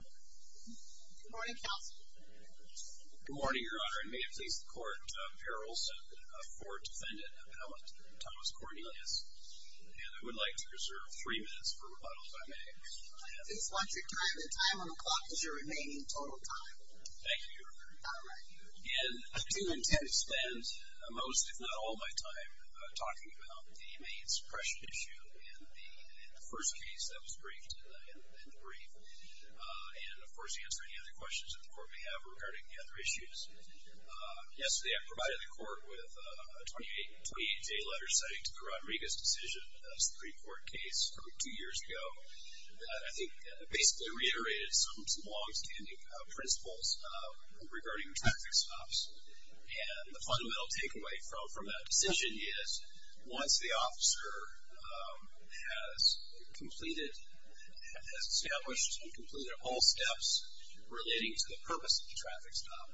Good morning, Counsel. Good morning, Your Honor. And may it please the Court, Parole sent for Defendant Appellant Thomas Cornelius. And I would like to reserve three minutes for rebuttal, if I may. Just watch your time. The time on the clock is your remaining total time. Thank you, Your Honor. All right. And I do intend to spend most, if not all, of my time talking about the Maine suppression issue and the first case that was briefed in the brief. And, of course, answer any other questions that the Court may have regarding the other issues. Yesterday I provided the Court with a 28-day letter citing to the Rodriguez decision, a Supreme Court case from two years ago, that I think basically reiterated some longstanding principles regarding traffic stops. And the fundamental takeaway from that decision is, once the officer has completed, has established and completed all steps relating to the purpose of the traffic stop,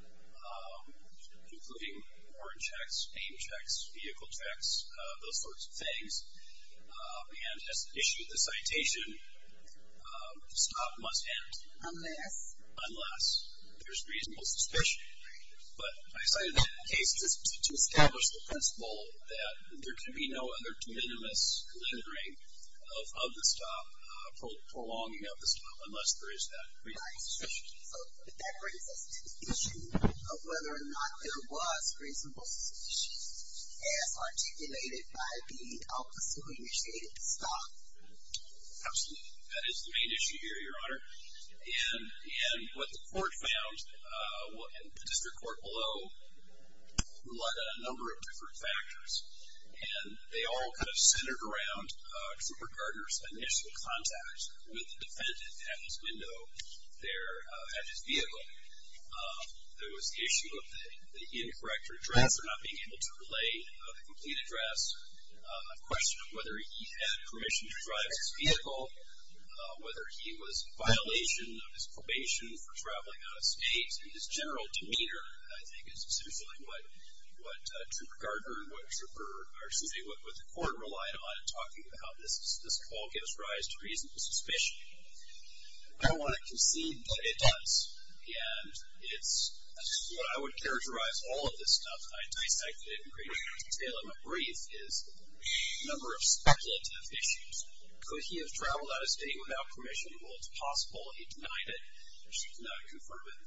including horn checks, name checks, vehicle checks, those sorts of things, and has issued the citation, the stop must end. Unless? Unless there's reasonable suspicion. But I cited that case just to establish the principle that there can be no other de minimis delineating of the stop, prolonging of the stop, unless there is that reasonable suspicion. So that brings us to the issue of whether or not there was reasonable suspicion as articulated by the officer who initiated the stop. Absolutely. That is the main issue here, Your Honor. And what the court found, and the district court below, relied on a number of different factors. And they all kind of centered around Trooper Gardner's initial contact with the defendant at his window there, at his vehicle. There was the issue of the incorrect address, or not being able to relay the complete address. A question of whether he had permission to drive his vehicle, whether he was in violation of his probation for traveling out of state. And his general demeanor, I think, is essentially what Trooper Gardner and what the court relied on in talking about this. This all gives rise to reasonable suspicion. I don't want to concede, but it does. And what I would characterize all of this stuff, and I dissected it in greater detail in a brief, is a number of speculative issues. Could he have traveled out of state without permission? Well, it's possible. He denied it. She did not confirm it.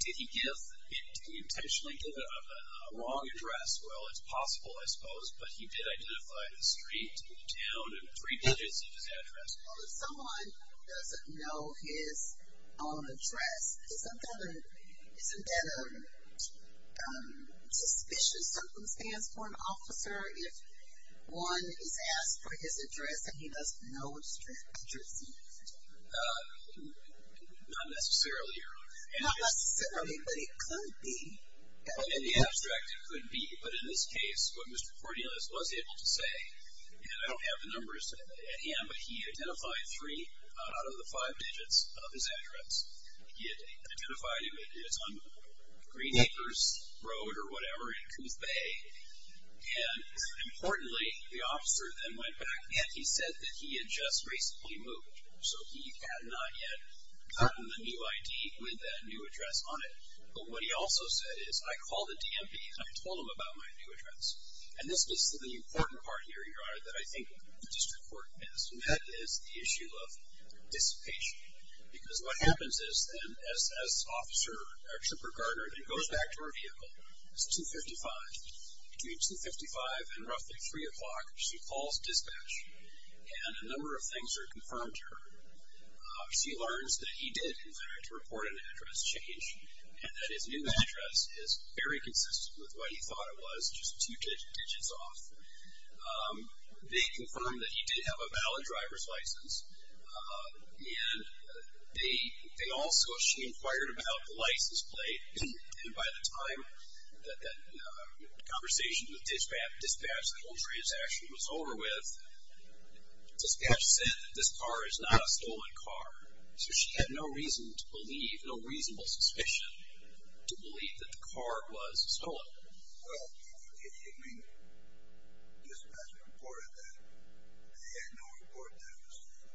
Did he intentionally give it a wrong address? Well, it's possible, I suppose. But he did identify the street, town, and three digits of his address. Well, if someone doesn't know his address, isn't that a suspicion? Something stands for an officer if one is asked for his address and he doesn't know his address. Not necessarily, Your Honor. Not necessarily, but it could be. In the abstract, it could be. But in this case, what Mr. Cordialis was able to say, and I don't have the numbers at hand, but he identified three out of the five digits of his address. He had identified it on Green Acres Road or whatever in Coon's Bay. And importantly, the officer then went back and he said that he had just recently moved. So he had not yet gotten the new ID with that new address on it. But what he also said is, I called the DMV and I told them about my new address. And this gets to the important part here, Your Honor, that I think the district court has met, is the issue of dissipation. Because what happens is, then, as the officer, our chipper guarder, then goes back to her vehicle, it's 255. Between 255 and roughly 3 o'clock, she calls dispatch, and a number of things are confirmed to her. She learns that he did, in fact, report an address change and that his new address is very consistent with what he thought it was, just two digits off. They confirm that he did have a valid driver's license and they also, she inquired about the license plate. And by the time that that conversation with dispatch, the whole transaction was over with, dispatch said that this car is not a stolen car. So she had no reason to believe, no reasonable suspicion to believe that the car was stolen. Well, I mean, dispatch reported that. They had no report that it was stolen.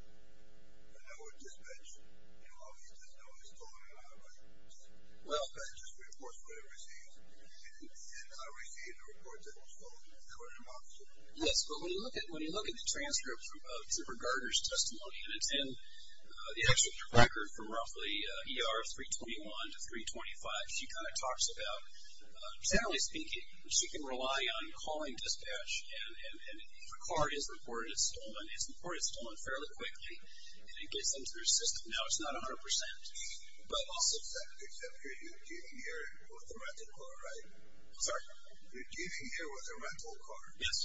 But that was dispatch. You know, all he does know is stolen and not a valid license. Well. That just reports what he receives. And I received a report that it was stolen. I heard him officer. Yes, but when you look at the transcript from chipper guarder's testimony, and it's in the actual record from roughly ER 321 to 325, she kind of talks about, generally speaking, she can rely on calling dispatch, and if a car is reported as stolen, it's reported stolen fairly quickly. And it gets them to their system. Now it's not a hundred percent. But also, except you're dealing here with a rental car, right? Sorry? You're dealing here with a rental car. Yes.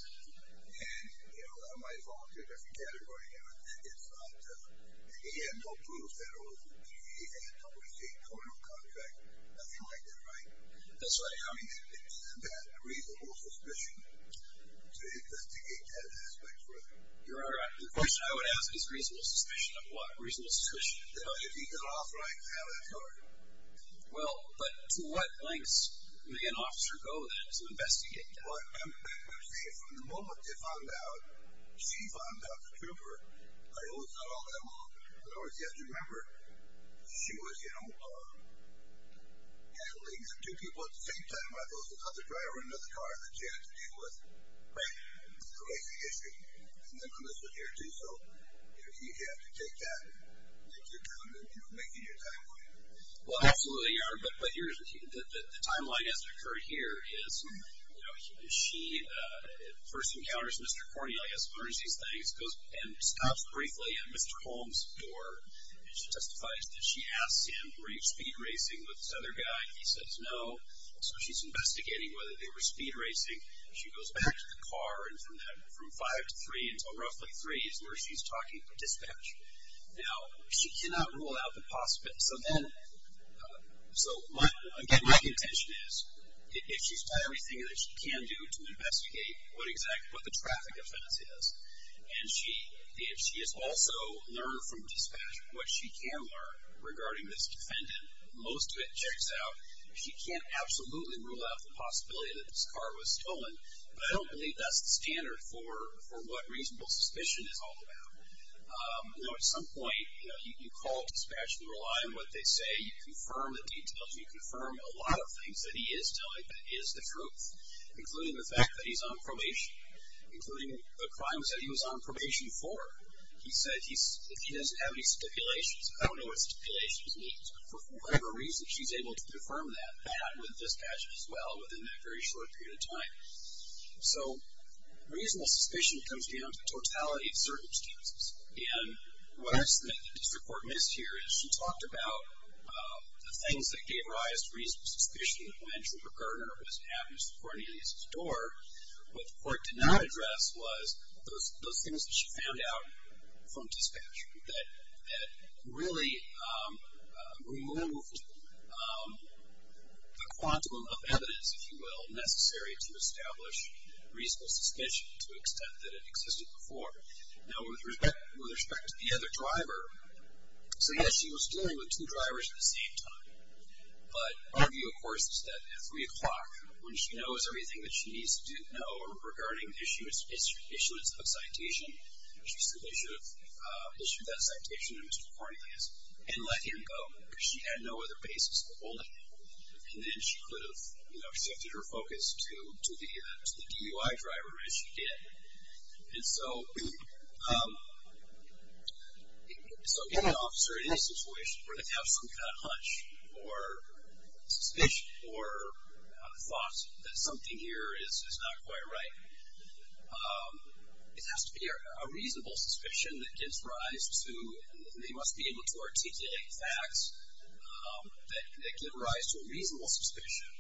And, you know, I might fall into a different category here. It's not, he had no proof that it was, he had no receipt, no real contract, nothing like that, right? That's right. I mean, is that reasonable suspicion? To investigate that aspect further. The question I would ask is reasonable suspicion of what? Reasonable suspicion. If he got off right now, that's all right. Well, but to what lengths may an officer go then to investigate that? Well, I'm saying from the moment they found out, she found out, the trooper, I always thought all that long. In other words, you have to remember, she was, you know, handling two people at the same time. I thought it was the other driver in another car that she had to deal with. Right. So that's the issue. And then from this point of view, too, so, you know, you have to take that into account when you're making your timeline. Well, absolutely. But the timeline as it occurred here is, you know, she first encounters Mr. Cornelius, learns these things, and stops briefly at Mr. Holmes' door. She testifies that she asked him, were you speed racing with this other guy? He says no. So she's investigating whether they were speed racing. She goes back to the car, and from five to three, until roughly three is where she's talking to dispatch. Now, she cannot rule out the possibility. So then, so, again, my contention is, if she's done everything that she can do to investigate what the traffic offense is, and she has also learned from dispatch what she can learn regarding this defendant, most of it checks out. She can't absolutely rule out the possibility that this car was stolen, but I don't believe that's the standard for what reasonable suspicion is all about. Now, at some point, you know, you call dispatch and rely on what they say. You confirm the details. You confirm a lot of things that he is telling that is the truth, including the fact that he's on probation, including the crimes that he was on probation for. He said he doesn't have any stipulations. I don't know what stipulations means, but for whatever reason, she's able to confirm that with dispatch as well within that very short period of time. So reasonable suspicion comes down to the totality of circumstances, and what I submit that district court missed here is she talked about the things that gave rise to reasonable suspicion when Trooper Garner was at Mr. Cornelius' door. What the court did not address was those things that she found out from dispatch that really removed the quantum of evidence, if you will, necessary to establish reasonable suspicion to the extent that it existed before. Now, with respect to the other driver, so, yes, she was dealing with two drivers at the same time, but her view, of course, is that at 3 o'clock, when she knows everything that she needs to know regarding issues of citation, she simply should have issued that citation to Mr. Cornelius and let him go because she had no other basis to hold him, and then she could have shifted her focus to the DUI driver as she did. And so, if an officer in this situation were to have some kind of hunch or suspicion or thought that something here is not quite right, it has to be a reasonable suspicion that gives rise to and they must be able to articulate facts that give rise to a reasonable suspicion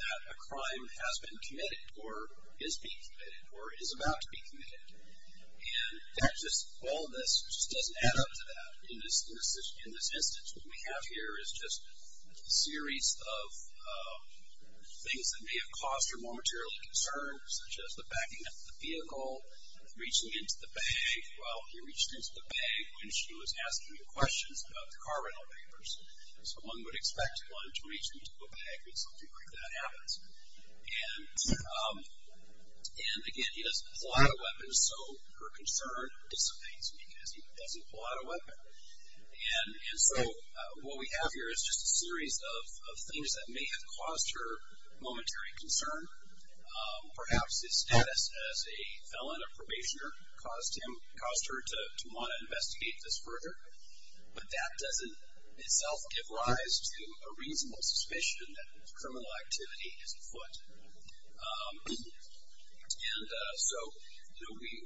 that a crime has been committed or is being committed or is about to be committed. And all this just doesn't add up to that in this instance. What we have here is just a series of things that may have caused her momentarily concern, such as the backing up of the vehicle, reaching into the bag. Well, he reached into the bag when she was asking him questions about the car rental papers, so one would expect one to reach into a bag when something like that happens. And, again, he doesn't pull out a weapon, so her concern dissipates because he doesn't pull out a weapon. And so what we have here is just a series of things that may have caused her momentary concern, perhaps his status as a felon, a probationer, caused her to want to investigate this further, but that doesn't itself give rise to a reasonable suspicion that criminal activity is afoot. And so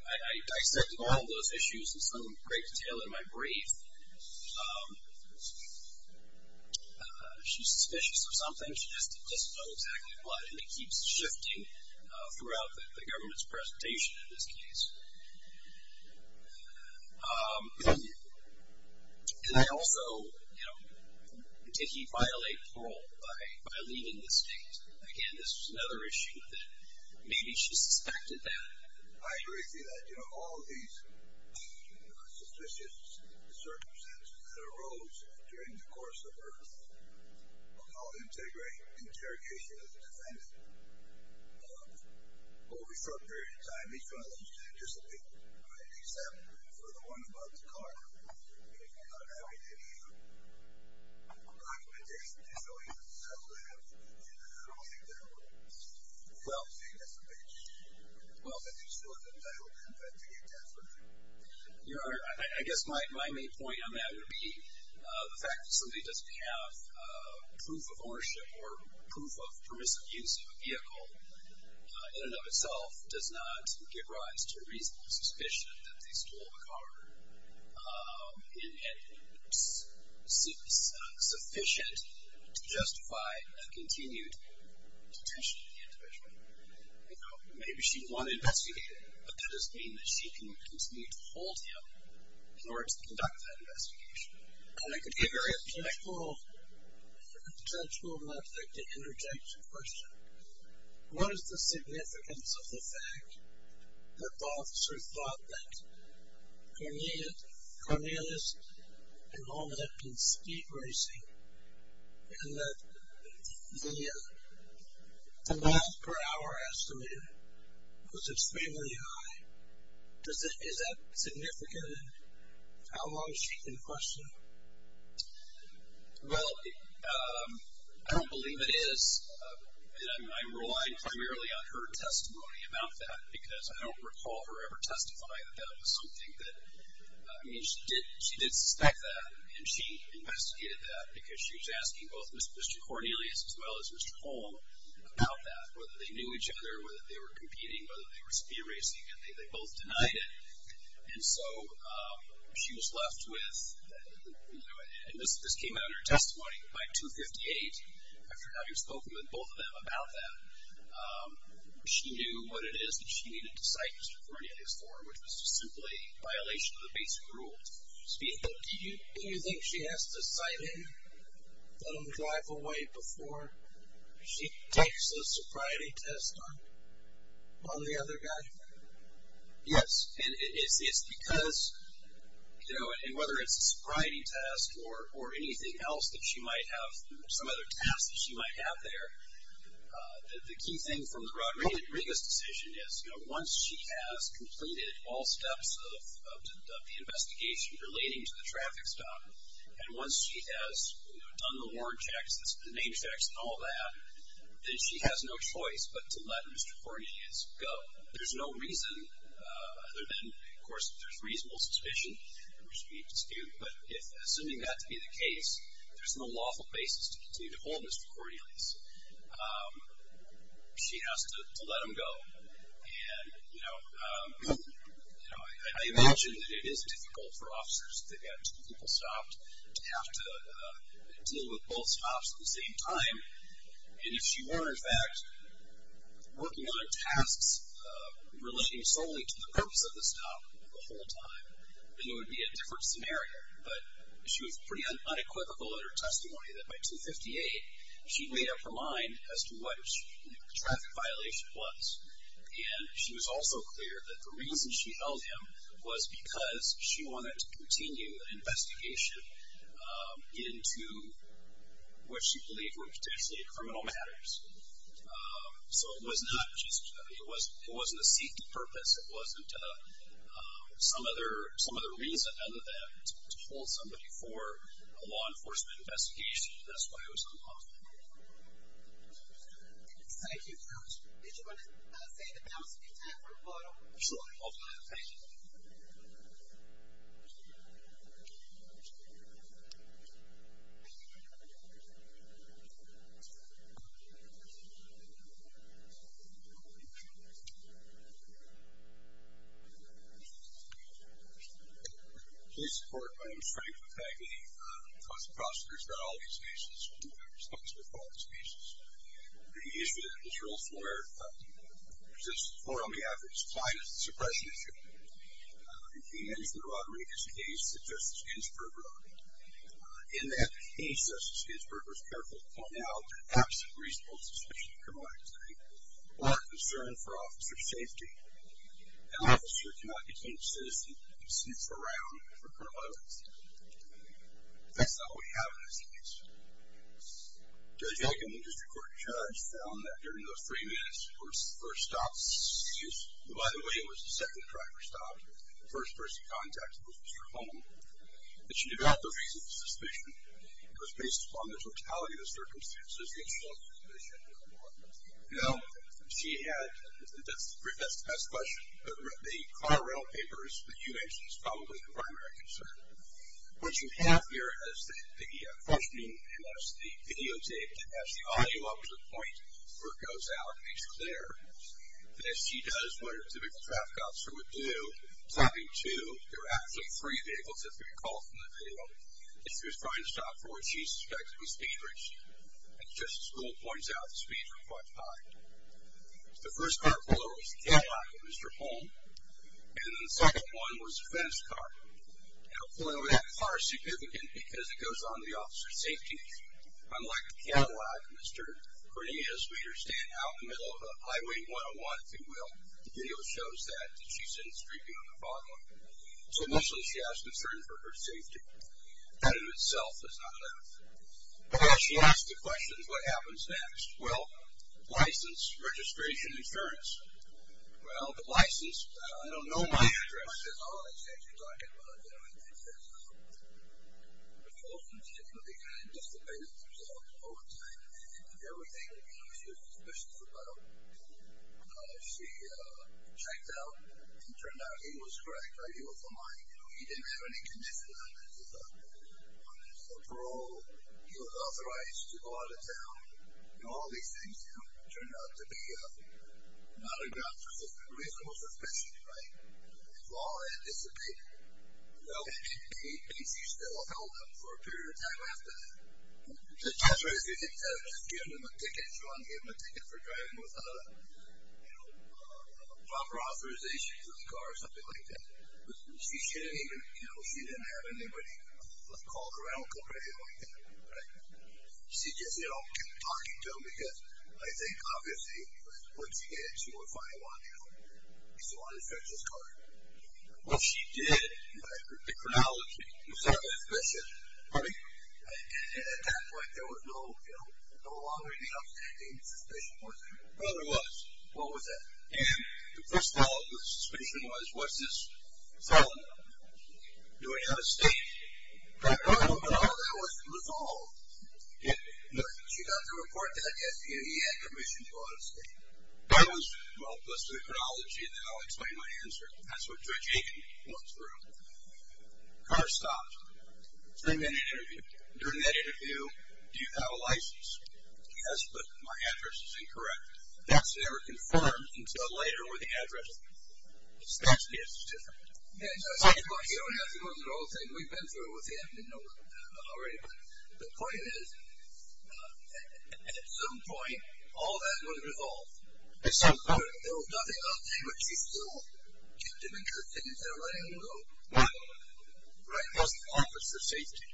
I dissected all those issues in some great detail in my brief. She's suspicious of something. She doesn't know exactly what, and it keeps shifting throughout the government's presentation in this case. And I also, you know, did he violate parole by leaving the state? Again, this was another issue that maybe she suspected that. I agree with you that, you know, all of these suspicious circumstances that arose during the course of her interrogation as a defendant, over a short period of time, these problems did dissipate, except for the one about the car. Well, I guess my main point on that would be the fact that somebody doesn't have proof of ownership or proof of permissive use of a vehicle in and of itself does not give rise to a reasonable suspicion that they stole a car in any way that's sufficient to justify a continued detention of the individual. You know, maybe she wanted to investigate him, but that doesn't mean that she can continue to hold him in order to conduct that investigation. And I could give you a potential object to interject a question. What is the significance of the fact that the officer thought that Cornelius and Loma had been speed racing and that the miles per hour estimated was extremely high? Is that significant? How long is she in question? Well, I don't believe it is. I'm relying primarily on her testimony about that because I don't recall her ever testifying that that was something that, I mean, she did suspect that and she investigated that because she was asking both Mr. Cornelius as well as Mr. Holm about that, whether they knew each other, whether they were competing, whether they were speed racing, and they both denied it. And so she was left with, you know, and this came out in her testimony, by 258, after having spoken with both of them about that, she knew what it is that she needed to cite Mr. Cornelius for, which was just simply a violation of the basic rules. Do you think she has to cite him, let him drive away, before she takes a sobriety test on the other guy? Yes. And it's because, you know, and whether it's a sobriety test or anything else that she might have, some other tasks that she might have there, the key thing from the Rodriguez decision is, you know, once she has completed all steps of the investigation relating to the traffic stop, and once she has done the warrant checks, the name checks, and all that, then she has no choice but to let Mr. Cornelius go. There's no reason other than, of course, there's reasonable suspicion, but assuming that to be the case, there's no lawful basis to continue to hold Mr. Cornelius. She has to let him go. And, you know, I mentioned that it is difficult for officers that have two people stopped to have to deal with both stops at the same time. And if she were, in fact, working on her tasks relating solely to the purpose of the stop the whole time, then it would be a different scenario. But she was pretty unequivocal in her testimony that by 258, she'd made up her mind as to what the traffic violation was. And she was also clear that the reason she held him was because she wanted to continue the investigation into what she believed were potentially criminal matters. So it was not just, it wasn't a secret purpose. It wasn't some other reason other than to hold somebody for a law enforcement investigation. That's why it was unlawful. Thank you, Coach. Did you want to say that that was a good time for a photo? Absolutely. I'll do that. Thank you. Please support my own strength and integrity. As prosecutors, not all of these cases will be responsible for all of these cases. The issue that was raised earlier, this is more on behalf of his client as a suppression issue. He mentioned in Rodriguez's case that Justice Ginsburg wrote. In that case, Justice Ginsburg was careful to point out that absent reasonable suspicion of criminal activity or concern for officer safety, an officer cannot be deemed a citizen if he sits around for criminal evidence. That's not what we have in this case. Judge Aiken, the district court judge, found that during those three minutes for her stop, by the way, it was the second driver stopped, the first person contacted was Mr. Holm, that she did not have reasonable suspicion. It was based upon the totality of the circumstances. She had, that's the best question. The car rental papers that you mentioned is probably the primary concern. What you have here is the video tape that has the audio up to the point where it goes out and it's clear. And as she does what a typical traffic officer would do, time two, there are actually three vehicles that we recall from the video. As she was trying to stop forward, she's suspected to be speed racing. As Justice Gould points out, the speeds were quite high. The first car below was the Cadillac of Mr. Holm, and the second one was the fence car. Now, clearly that car is significant because it goes on the officer's safety. Unlike the Cadillac, Mr. Cornelius made her stand out in the middle of Highway 101, if you will. The video shows that, that she's in a street view on the bottom of it. So, initially she has concern for her safety. That in itself is not enough. Now, as she asks the questions, what happens next? Well, license, registration, insurance. Well, the license, I don't know my address. She says, oh, I see what you're talking about. You know what I mean? She says, the folks in the city would be kind of dissipating themselves all the time. And everything, you know, she was suspicious about. She checked out, and it turned out he was correct, right? He was lying. You know, he didn't have any conditions on his parole. He was authorized to go out of town. You know, all these things, you know, turned out to be not aggressive. He was a little suspicious, right? It's law to dissipate. And she still held him for a period of time after that. She said, that's right. She didn't just give him a ticket. She wouldn't give him a ticket for driving without a proper authorization for the car or something like that. She didn't even, you know, she didn't have anybody call her out or anything like that. Right? She just, you know, kept talking to him because I think, obviously, once again, she would finally want the car. She still wanted to fetch his car. Well, she did. The chronology. Was that suspicious? Pardon me? At that point, there was no longer, you know, any suspicion, was there? Well, there was. What was that? Well, first of all, the suspicion was, was this felon doing it on a stake? No, that was all. She got the report that, yes, he had commissioned to do it on a stake. That was, well, plus the chronology, and then I'll explain my answer. That's what Judge Aiken went through. The car stopped. During that interview, do you have a license? Yes, but my address is incorrect. That's never confirmed until later when the address is different. You don't have to go through the whole thing. We've been through it with him. You know that already. But the point is, at some point, all that was resolved. At some point. There was nothing else to do, but she still kept him interested and said, all right, I'm going to go. Right. What was the officer's safety?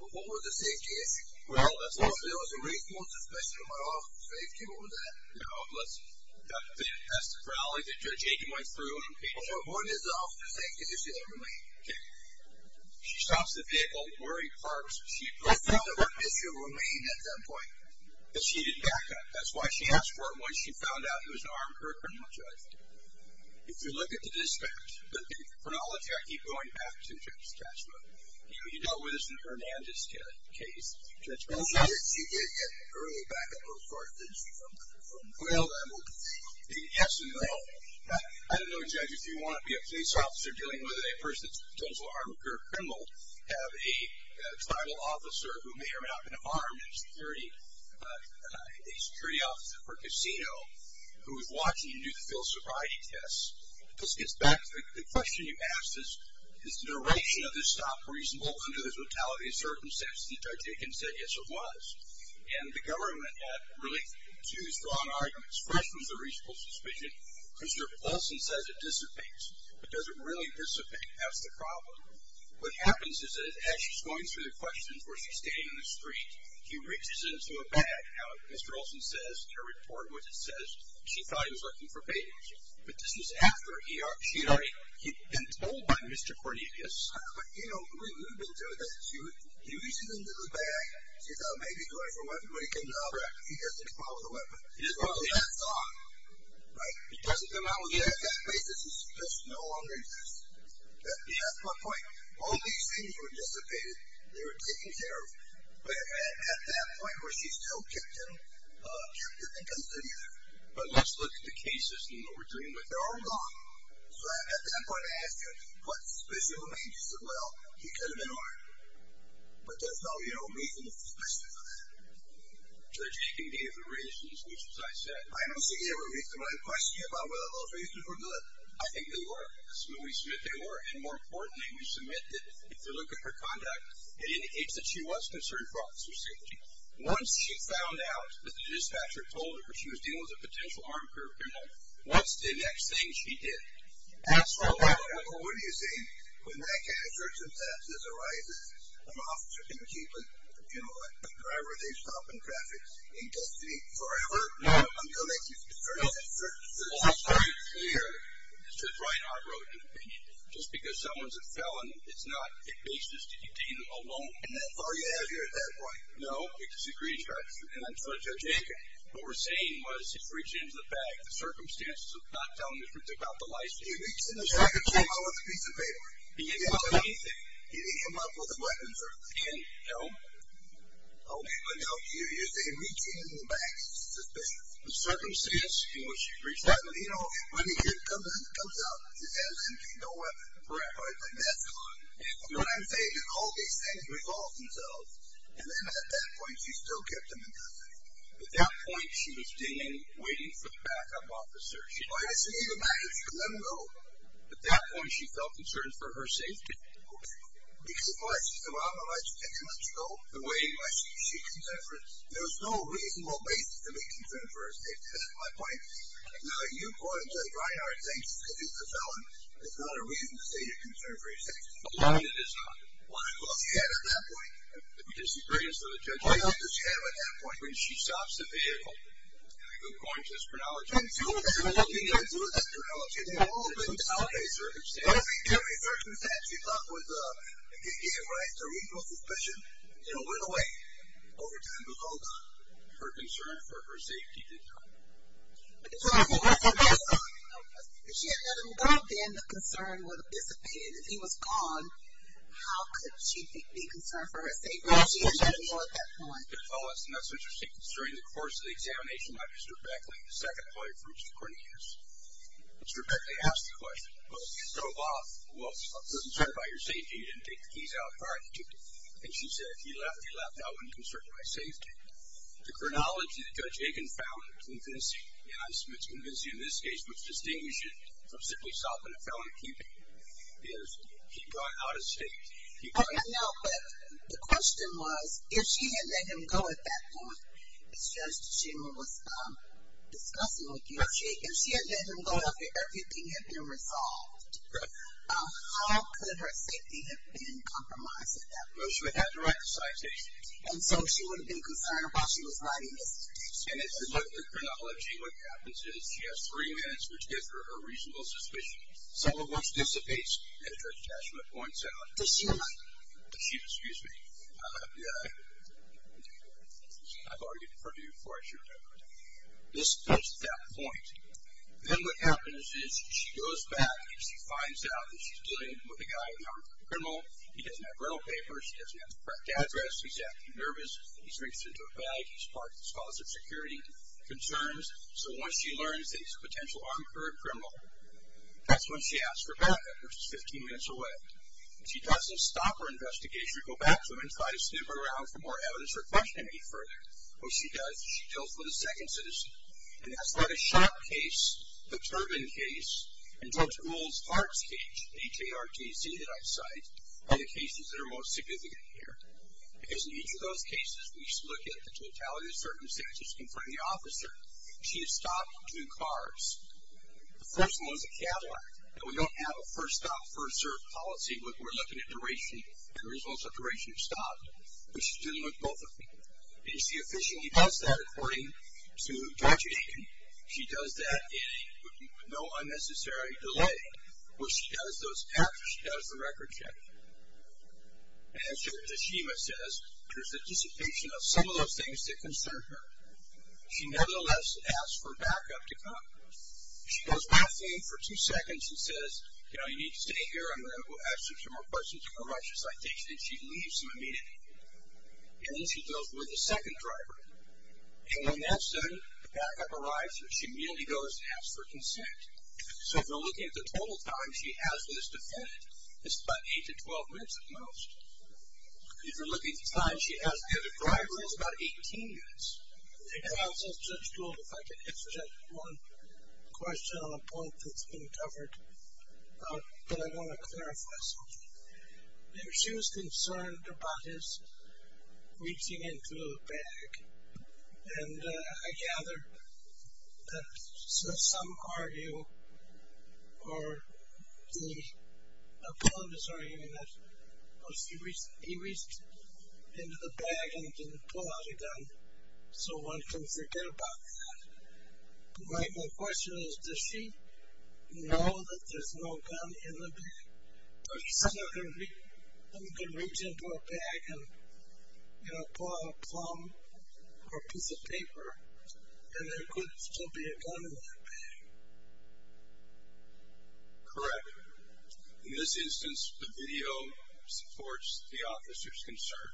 Well, what was the safety issue? Well, there was a reasonable suspicion of my officer's safety. What was that? No, that's the chronology that Judge Aiken went through. Well, what was the officer's safety issue that remained? She stops the vehicle. We're in parks. I don't know what issue remained at that point. That she didn't back up. That's why she asked for it. Once she found out, it was an armed criminal judge. If you look at the dispatch, the chronology, I keep going back to Judge Cashman. You know where there's an Hernandez case, Judge Cashman. She did get an early back-up report, didn't she, from Quail? Yes and no. I don't know, Judge, if you want to be a police officer dealing with a person who's a total armed criminal, have a tribal officer who may or may not have armed a security officer for a casino who is watching you do the Phil sobriety test. This gets back to the question you asked, is the duration of this stop reasonable under the totality of circumstances? And Judge Aiken said, yes, it was. And the government had really two strong arguments. The first was a reasonable suspicion. Mr. Olsen says it dissipates. It doesn't really dissipate. That's the problem. What happens is that as she's going through the questions where she's standing in the street, she reaches into a bag. Now, Mr. Olsen says in her report what it says, she thought he was looking for babies. But this was after she had already been told by Mr. Cornelius. But, you know, who would do this? You reach into the bag. He didn't follow the weapon. He didn't follow the weapon. Well, that's gone. Right? It doesn't come out again. That basis just no longer exists. Yeah, that's my point. All these things were dissipated. They were taken care of. But at that point where she still kept him, kept him and continued him. But let's look at the cases and what we're doing with them. They're all gone. So, at that point, I ask you, what specifically made you say, well, he could have been armed? But there's no, you know, reasonable suspicion for that. They're taking me as a reason, as much as I said. I don't think they were reasonable. I'm questioning you about whether those reasons were good. I think they were. We submit they were. And, more importantly, we submit that if you look at her conduct, it indicates that she was concerned for officer safety. Once she found out that the dispatcher told her she was dealing with a potential armed criminal, what's the next thing she did? Ask her about it. Well, what do you think? When that kind of circumstance arises, an officer can keep a, you know, a driver at a stop in traffic. In custody forever? No. I'm going to make it very, very clear. It's just Ryan Hargrove's opinion. Just because someone's a felon, it's not a basis to detain them alone. And that's all you have here at that point? No. It's a secrecy practice. And I'm sorry, Judge Aiken. What we're saying was he's reaching into the bag. The circumstances of not telling the truth about the license. He reached into the sack of chips. He came out with a piece of paper. He didn't tell him anything. He didn't come out with a weapon, sir. He didn't tell him? No. He didn't tell him. You're saying he came into the bag. It's suspicious. The circumstances, you know, when she reached out, you know, when he comes out, he has no weapon. Correct. Right, like that's good. What I'm saying is all these things revolve themselves. And then at that point, she still kept them in custody. At that point, she was standing, waiting for the backup officer. She might have seen him, but she didn't let him go. At that point, she felt concerned for her safety. Okay. Because of our system. I don't know if I should mention this at all. The way in which she consented for it. There was no reasonable basis to be concerned for her safety. That's my point. Now, you go into the dry yard and say she's a felon. It's not a reason to say you're concerned for your safety. It is not. Why? Because he had her at that point. Because he brings her to the judge. Why? Because he had her at that point. When she stops the vehicle. And I'm going to this chronology. I'm going to this chronology. She did all of those things. In every circumstance. In every circumstance. She thought it was a good game. Right? It's a reasonable suspicion. You know, went away. Over time, it was all gone. Her concern for her safety did come. If she had let him go, then the concern would have dissipated. If he was gone, how could she be concerned for her safety? She didn't let him go at that point. That's interesting. During the course of the examination, Mr. Beckley, the second lawyer for Mr. Cornelius, Mr. Beckley asked the question, well, you drove off. Well, I'm concerned about your safety. You didn't take the keys out. All right. And she said, if you left, I wouldn't be concerned about my safety. The chronology that Judge Aiken found convincing, and I'm convinced it's convincing in this case, which distinguishes it from simply stopping a felon. He got out of state. He got out of state. No, but the question was, if she had let him go at that point, as Judge Tachibana was discussing with you, if she had let him go after everything had been resolved, how could her safety have been compromised at that point? Well, she would have had to write the citation. And so she would have been concerned while she was writing the citation. And if you look at the chronology, what happens is she has three minutes, which gives her a reasonable suspicion. Some of which dissipates as Judge Tachibana points out. Tachibana. Tachibana, excuse me. I've argued in front of you before, I should have noted. This is that point. Then what happens is she goes back and she finds out that she's dealing with a guy, an armed criminal. He doesn't have rental papers. He doesn't have the correct address. He's acting nervous. He's mixed into a bag. He's causing security concerns. So once she learns that he's a potential armed criminal, that's when she asks for backup. She's 15 minutes away. She doesn't stop her investigation and she should go back to him and try to sniff around for more evidence or question him any further. What she does is she deals with a second citizen. And that's what a shock case, the Turbin case, and Judge Gould's Hart's case, H-A-R-T-C, that I cite, are the cases that are most significant here. Because in each of those cases, we look at the totality of the circumstances in front of the officer. She has stopped two cars. The first one was a Cadillac. And we don't have a first stop, first serve policy, but we're looking at duration and results of duration of stop. But she's dealing with both of them. And you see, she officially does that according to Judge Aiken. She does that in no unnecessary delay. What she does, after she does the record check, and as Judge Tashima says, there's a dissipation of some of those things that concern her. She nevertheless asks for backup to come. She does one thing for two seconds and says, you know, you need to stay here. I'm going to go ask you some more questions. If you're righteous, I think that she leaves him immediately. And then she goes with the second driver. And when that's done, the backup arrives, and she immediately goes and asks for consent. So if you're looking at the total time she has with this defendant, it's about 8 to 12 minutes at most. If you're looking at the time she has with the other driver, it's about 18 minutes. And, Counselor, Judge Gould, if I could interject one question on a point that's been covered that I want to clarify something. She was concerned about his reaching into the bag. And I gather that some argue or the opponent is arguing that because he reached into the bag and didn't pull out a gun, so one can forget about that. My question is, does she know that there's no gun in the bag? Because someone could reach into a bag and, you know, pull out a plumb or a piece of paper, and there could still be a gun in that bag. Correct. In this instance, the video supports the officer's concern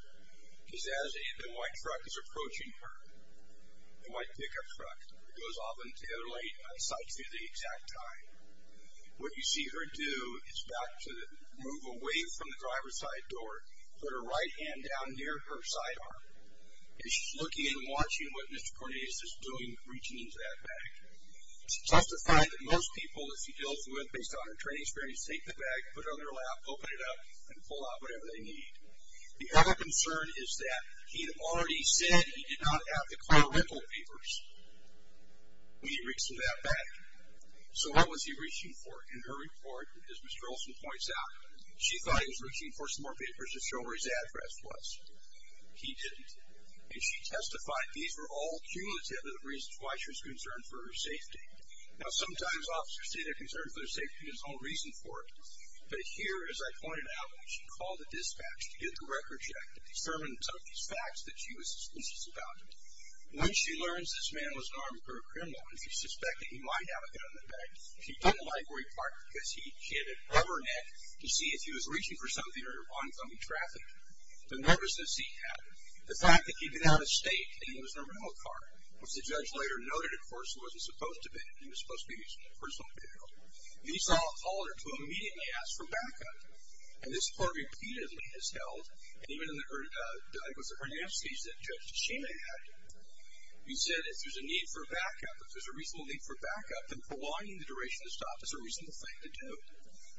because as the white truck is approaching her, the white pickup truck, it goes off into the other lane and sights you at the exact time. What you see her do is move away from the driver's side door, put her right hand down near her sidearm, and she's looking and watching what Mr. Cornelius is doing, reaching into that bag. It's justified that most people, if you deal with them based on their training experience, take the bag, put it on their lap, open it up, and pull out whatever they need. The other concern is that he had already said he did not have the car rental papers when he reached into that bag. So what was he reaching for? In her report, as Mr. Olson points out, she thought he was reaching for some more papers to show where his address was. He didn't. And she testified these were all cumulative of the reasons why she was concerned for her safety. Now, sometimes officers say they're concerned for their safety and there's no reason for it, but here, as I pointed out, she called the dispatch to get the record check to determine some of these facts that she was suspicious about. When she learns this man was an armed criminal and she suspected he might have a gun in the bag, she didn't like where he parked because she had to cover her neck to see if he was reaching for something or if he was going to be trafficked. The nervousness he had, the fact that he'd been out of state and he was in a rental car, which the judge later noted, of course, wasn't supposed to be. It was supposed to be his personal vehicle. And he called her to immediately ask for backup. And this court repeatedly has held. And even in the hernia stage that Judge Tashima had, he said if there's a need for backup, if there's a reasonable need for backup, then prolonging the duration of the stop is a reasonable thing to do.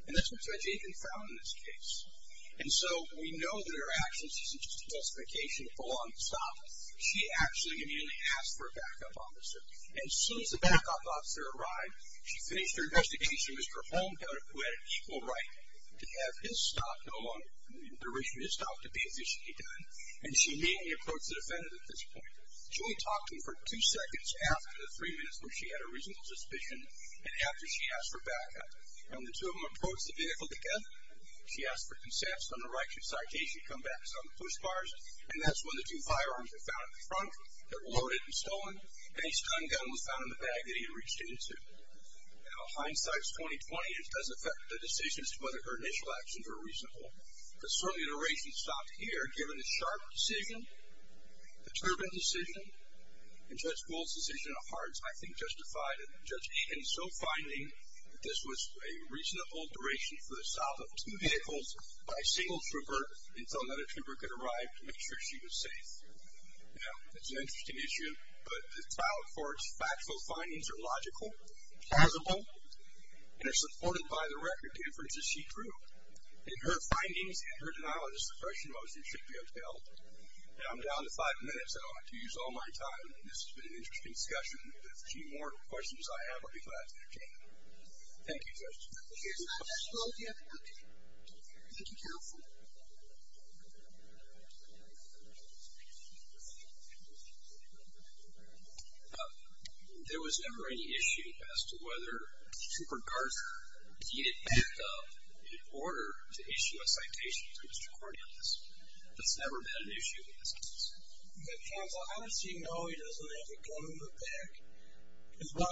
And that's what Judge Aitken found in this case. And so we know that her actions isn't just a justification to prolong the stop. She actually immediately asked for a backup, officer. And as soon as the backup officer arrived, she finished her investigation with her home counter who had an equal right to have his stop no longer, the duration of his stop, to be officially done. And she immediately approached the defendant at this point. She only talked to him for two seconds after the three minutes where she had a reasonable suspicion and after she asked for backup. When the two of them approached the vehicle together, she asked for consent from the right-hand side. She said, hey, you should come back and sell me push bars. And that's when the two firearms were found at the front that were loaded and stolen. And a stun gun was found in the bag that he had reached into. Now hindsight is 20-20. It doesn't affect the decisions to whether her initial actions were reasonable. But certainly the duration stopped here, given the sharp decision, the turbulent decision, and Judge Gould's decision at hearts, I think, justified it. And Judge Aitken is still finding that this was a reasonable duration for the stop of two vehicles by a single trooper until another trooper could arrive to make sure she was safe. Now, that's an interesting issue. But the child court's factual findings are logical, plausible, and are supported by the record differences she drew. In her findings and her denial of the suppression motion should be upheld. Now I'm down to five minutes. I don't have to use all my time. This has been an interesting discussion. If there's any more questions I have, I'll be glad to entertain them. Thank you, Judge. Okay. Thank you, counsel. There was never any issue as to whether Trooper Garza needed backup in order to issue a citation to Mr. Corneas. That's never been an issue in this case. Counsel, I don't see no issues with that. Well,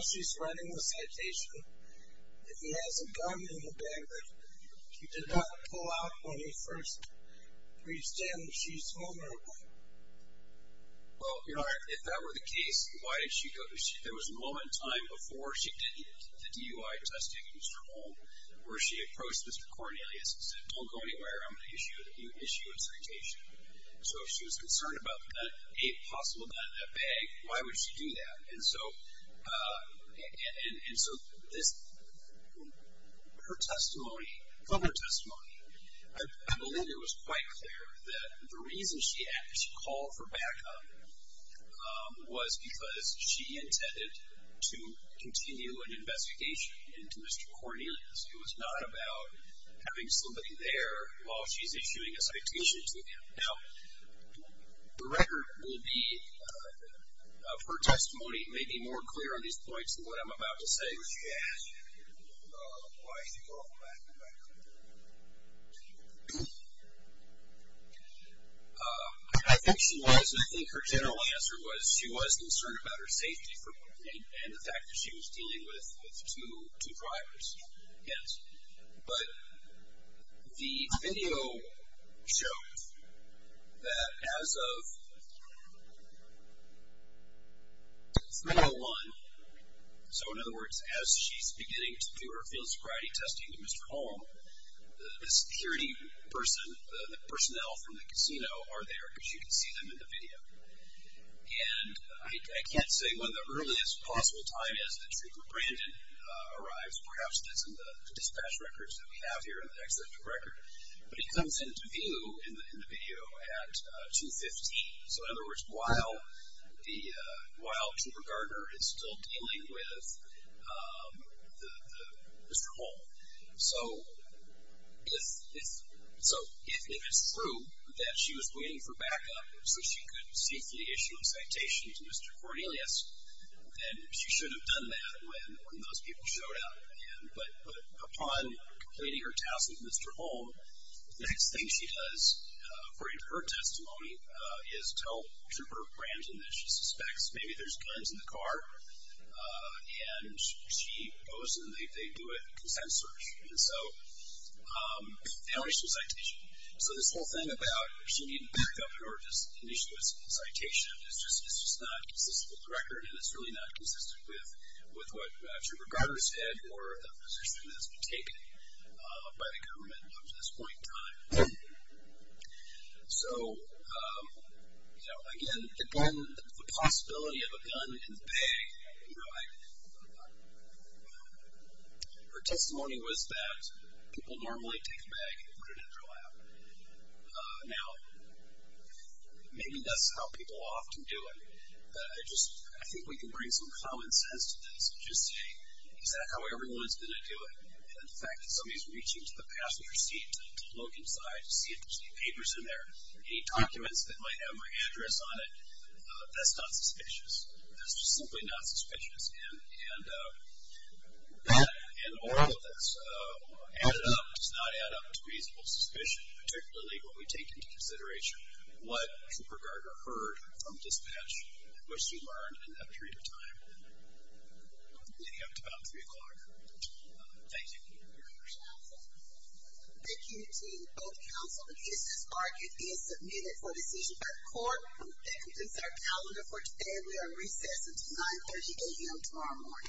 if that were the case, there was a moment in time before she did the DUI testing in Mr. Holm where she approached Mr. Cornelius and said, don't go anywhere, I'm going to issue a citation. So if she was concerned about the possible nut in that bag, why would she do that? And so her testimony, from her testimony, I believe it was quite clear that the reason she called for backup was because she intended to continue an investigation into Mr. Cornelius. It was not about having somebody there while she's issuing a citation to him. Now, the record will be, of her testimony, may be more clear on these points than what I'm about to say. I think she was, I think her general answer was she was concerned about her safety and the fact that she was dealing with two drivers. Yes. But the video shows that as of 3-0-1, so in other words, as she's beginning to do her field sobriety testing to Mr. Holm, the security person, the personnel from the casino are there because you can see them in the video. And I can't say when the earliest possible time is that Trooper Brandon arrives. Perhaps it's in the dispatch records that we have here in the executive record. But he comes into view in the video at 2-15. So in other words, while Trooper Gardner is still dealing with Mr. Holm. So if it's true that she was waiting for backup so she could safely issue a citation to Mr. Cornelius, then she should have done that when those people showed up. But upon completing her task with Mr. Holm, the next thing she does, according to her testimony, is tell Trooper Brandon that she suspects maybe there's guns in the car. And she goes and they do a consent search and issue a citation. So this whole thing about if she needed backup in order to issue a citation is just not consistent with the record and it's really not consistent with what Trooper Gardner said or the position that has been taken by the government up to this point in time. So, you know, again, the possibility of a gun in the bag, you know, her testimony was that people normally take a bag and put it in their lap. Now, maybe that's how people often do it, but I just think we can bring some common sense to this and just say, is that how everyone's going to do it? And the fact that somebody's reaching to the passenger seat to look inside to see if there's any papers in there, any documents that might have my address on it, that's not suspicious. That's just simply not suspicious. And an oral that's added up does not add up to reasonable suspicion, particularly when we take into consideration what Trooper Gardner heard from dispatch, which she learned in that period of time leading up to about 3 o'clock. Thank you. Thank you, team. Both council and business market is submitted for decision by the court. Thank you. This is our calendar for today. We are on recess until 9.30 a.m. tomorrow morning.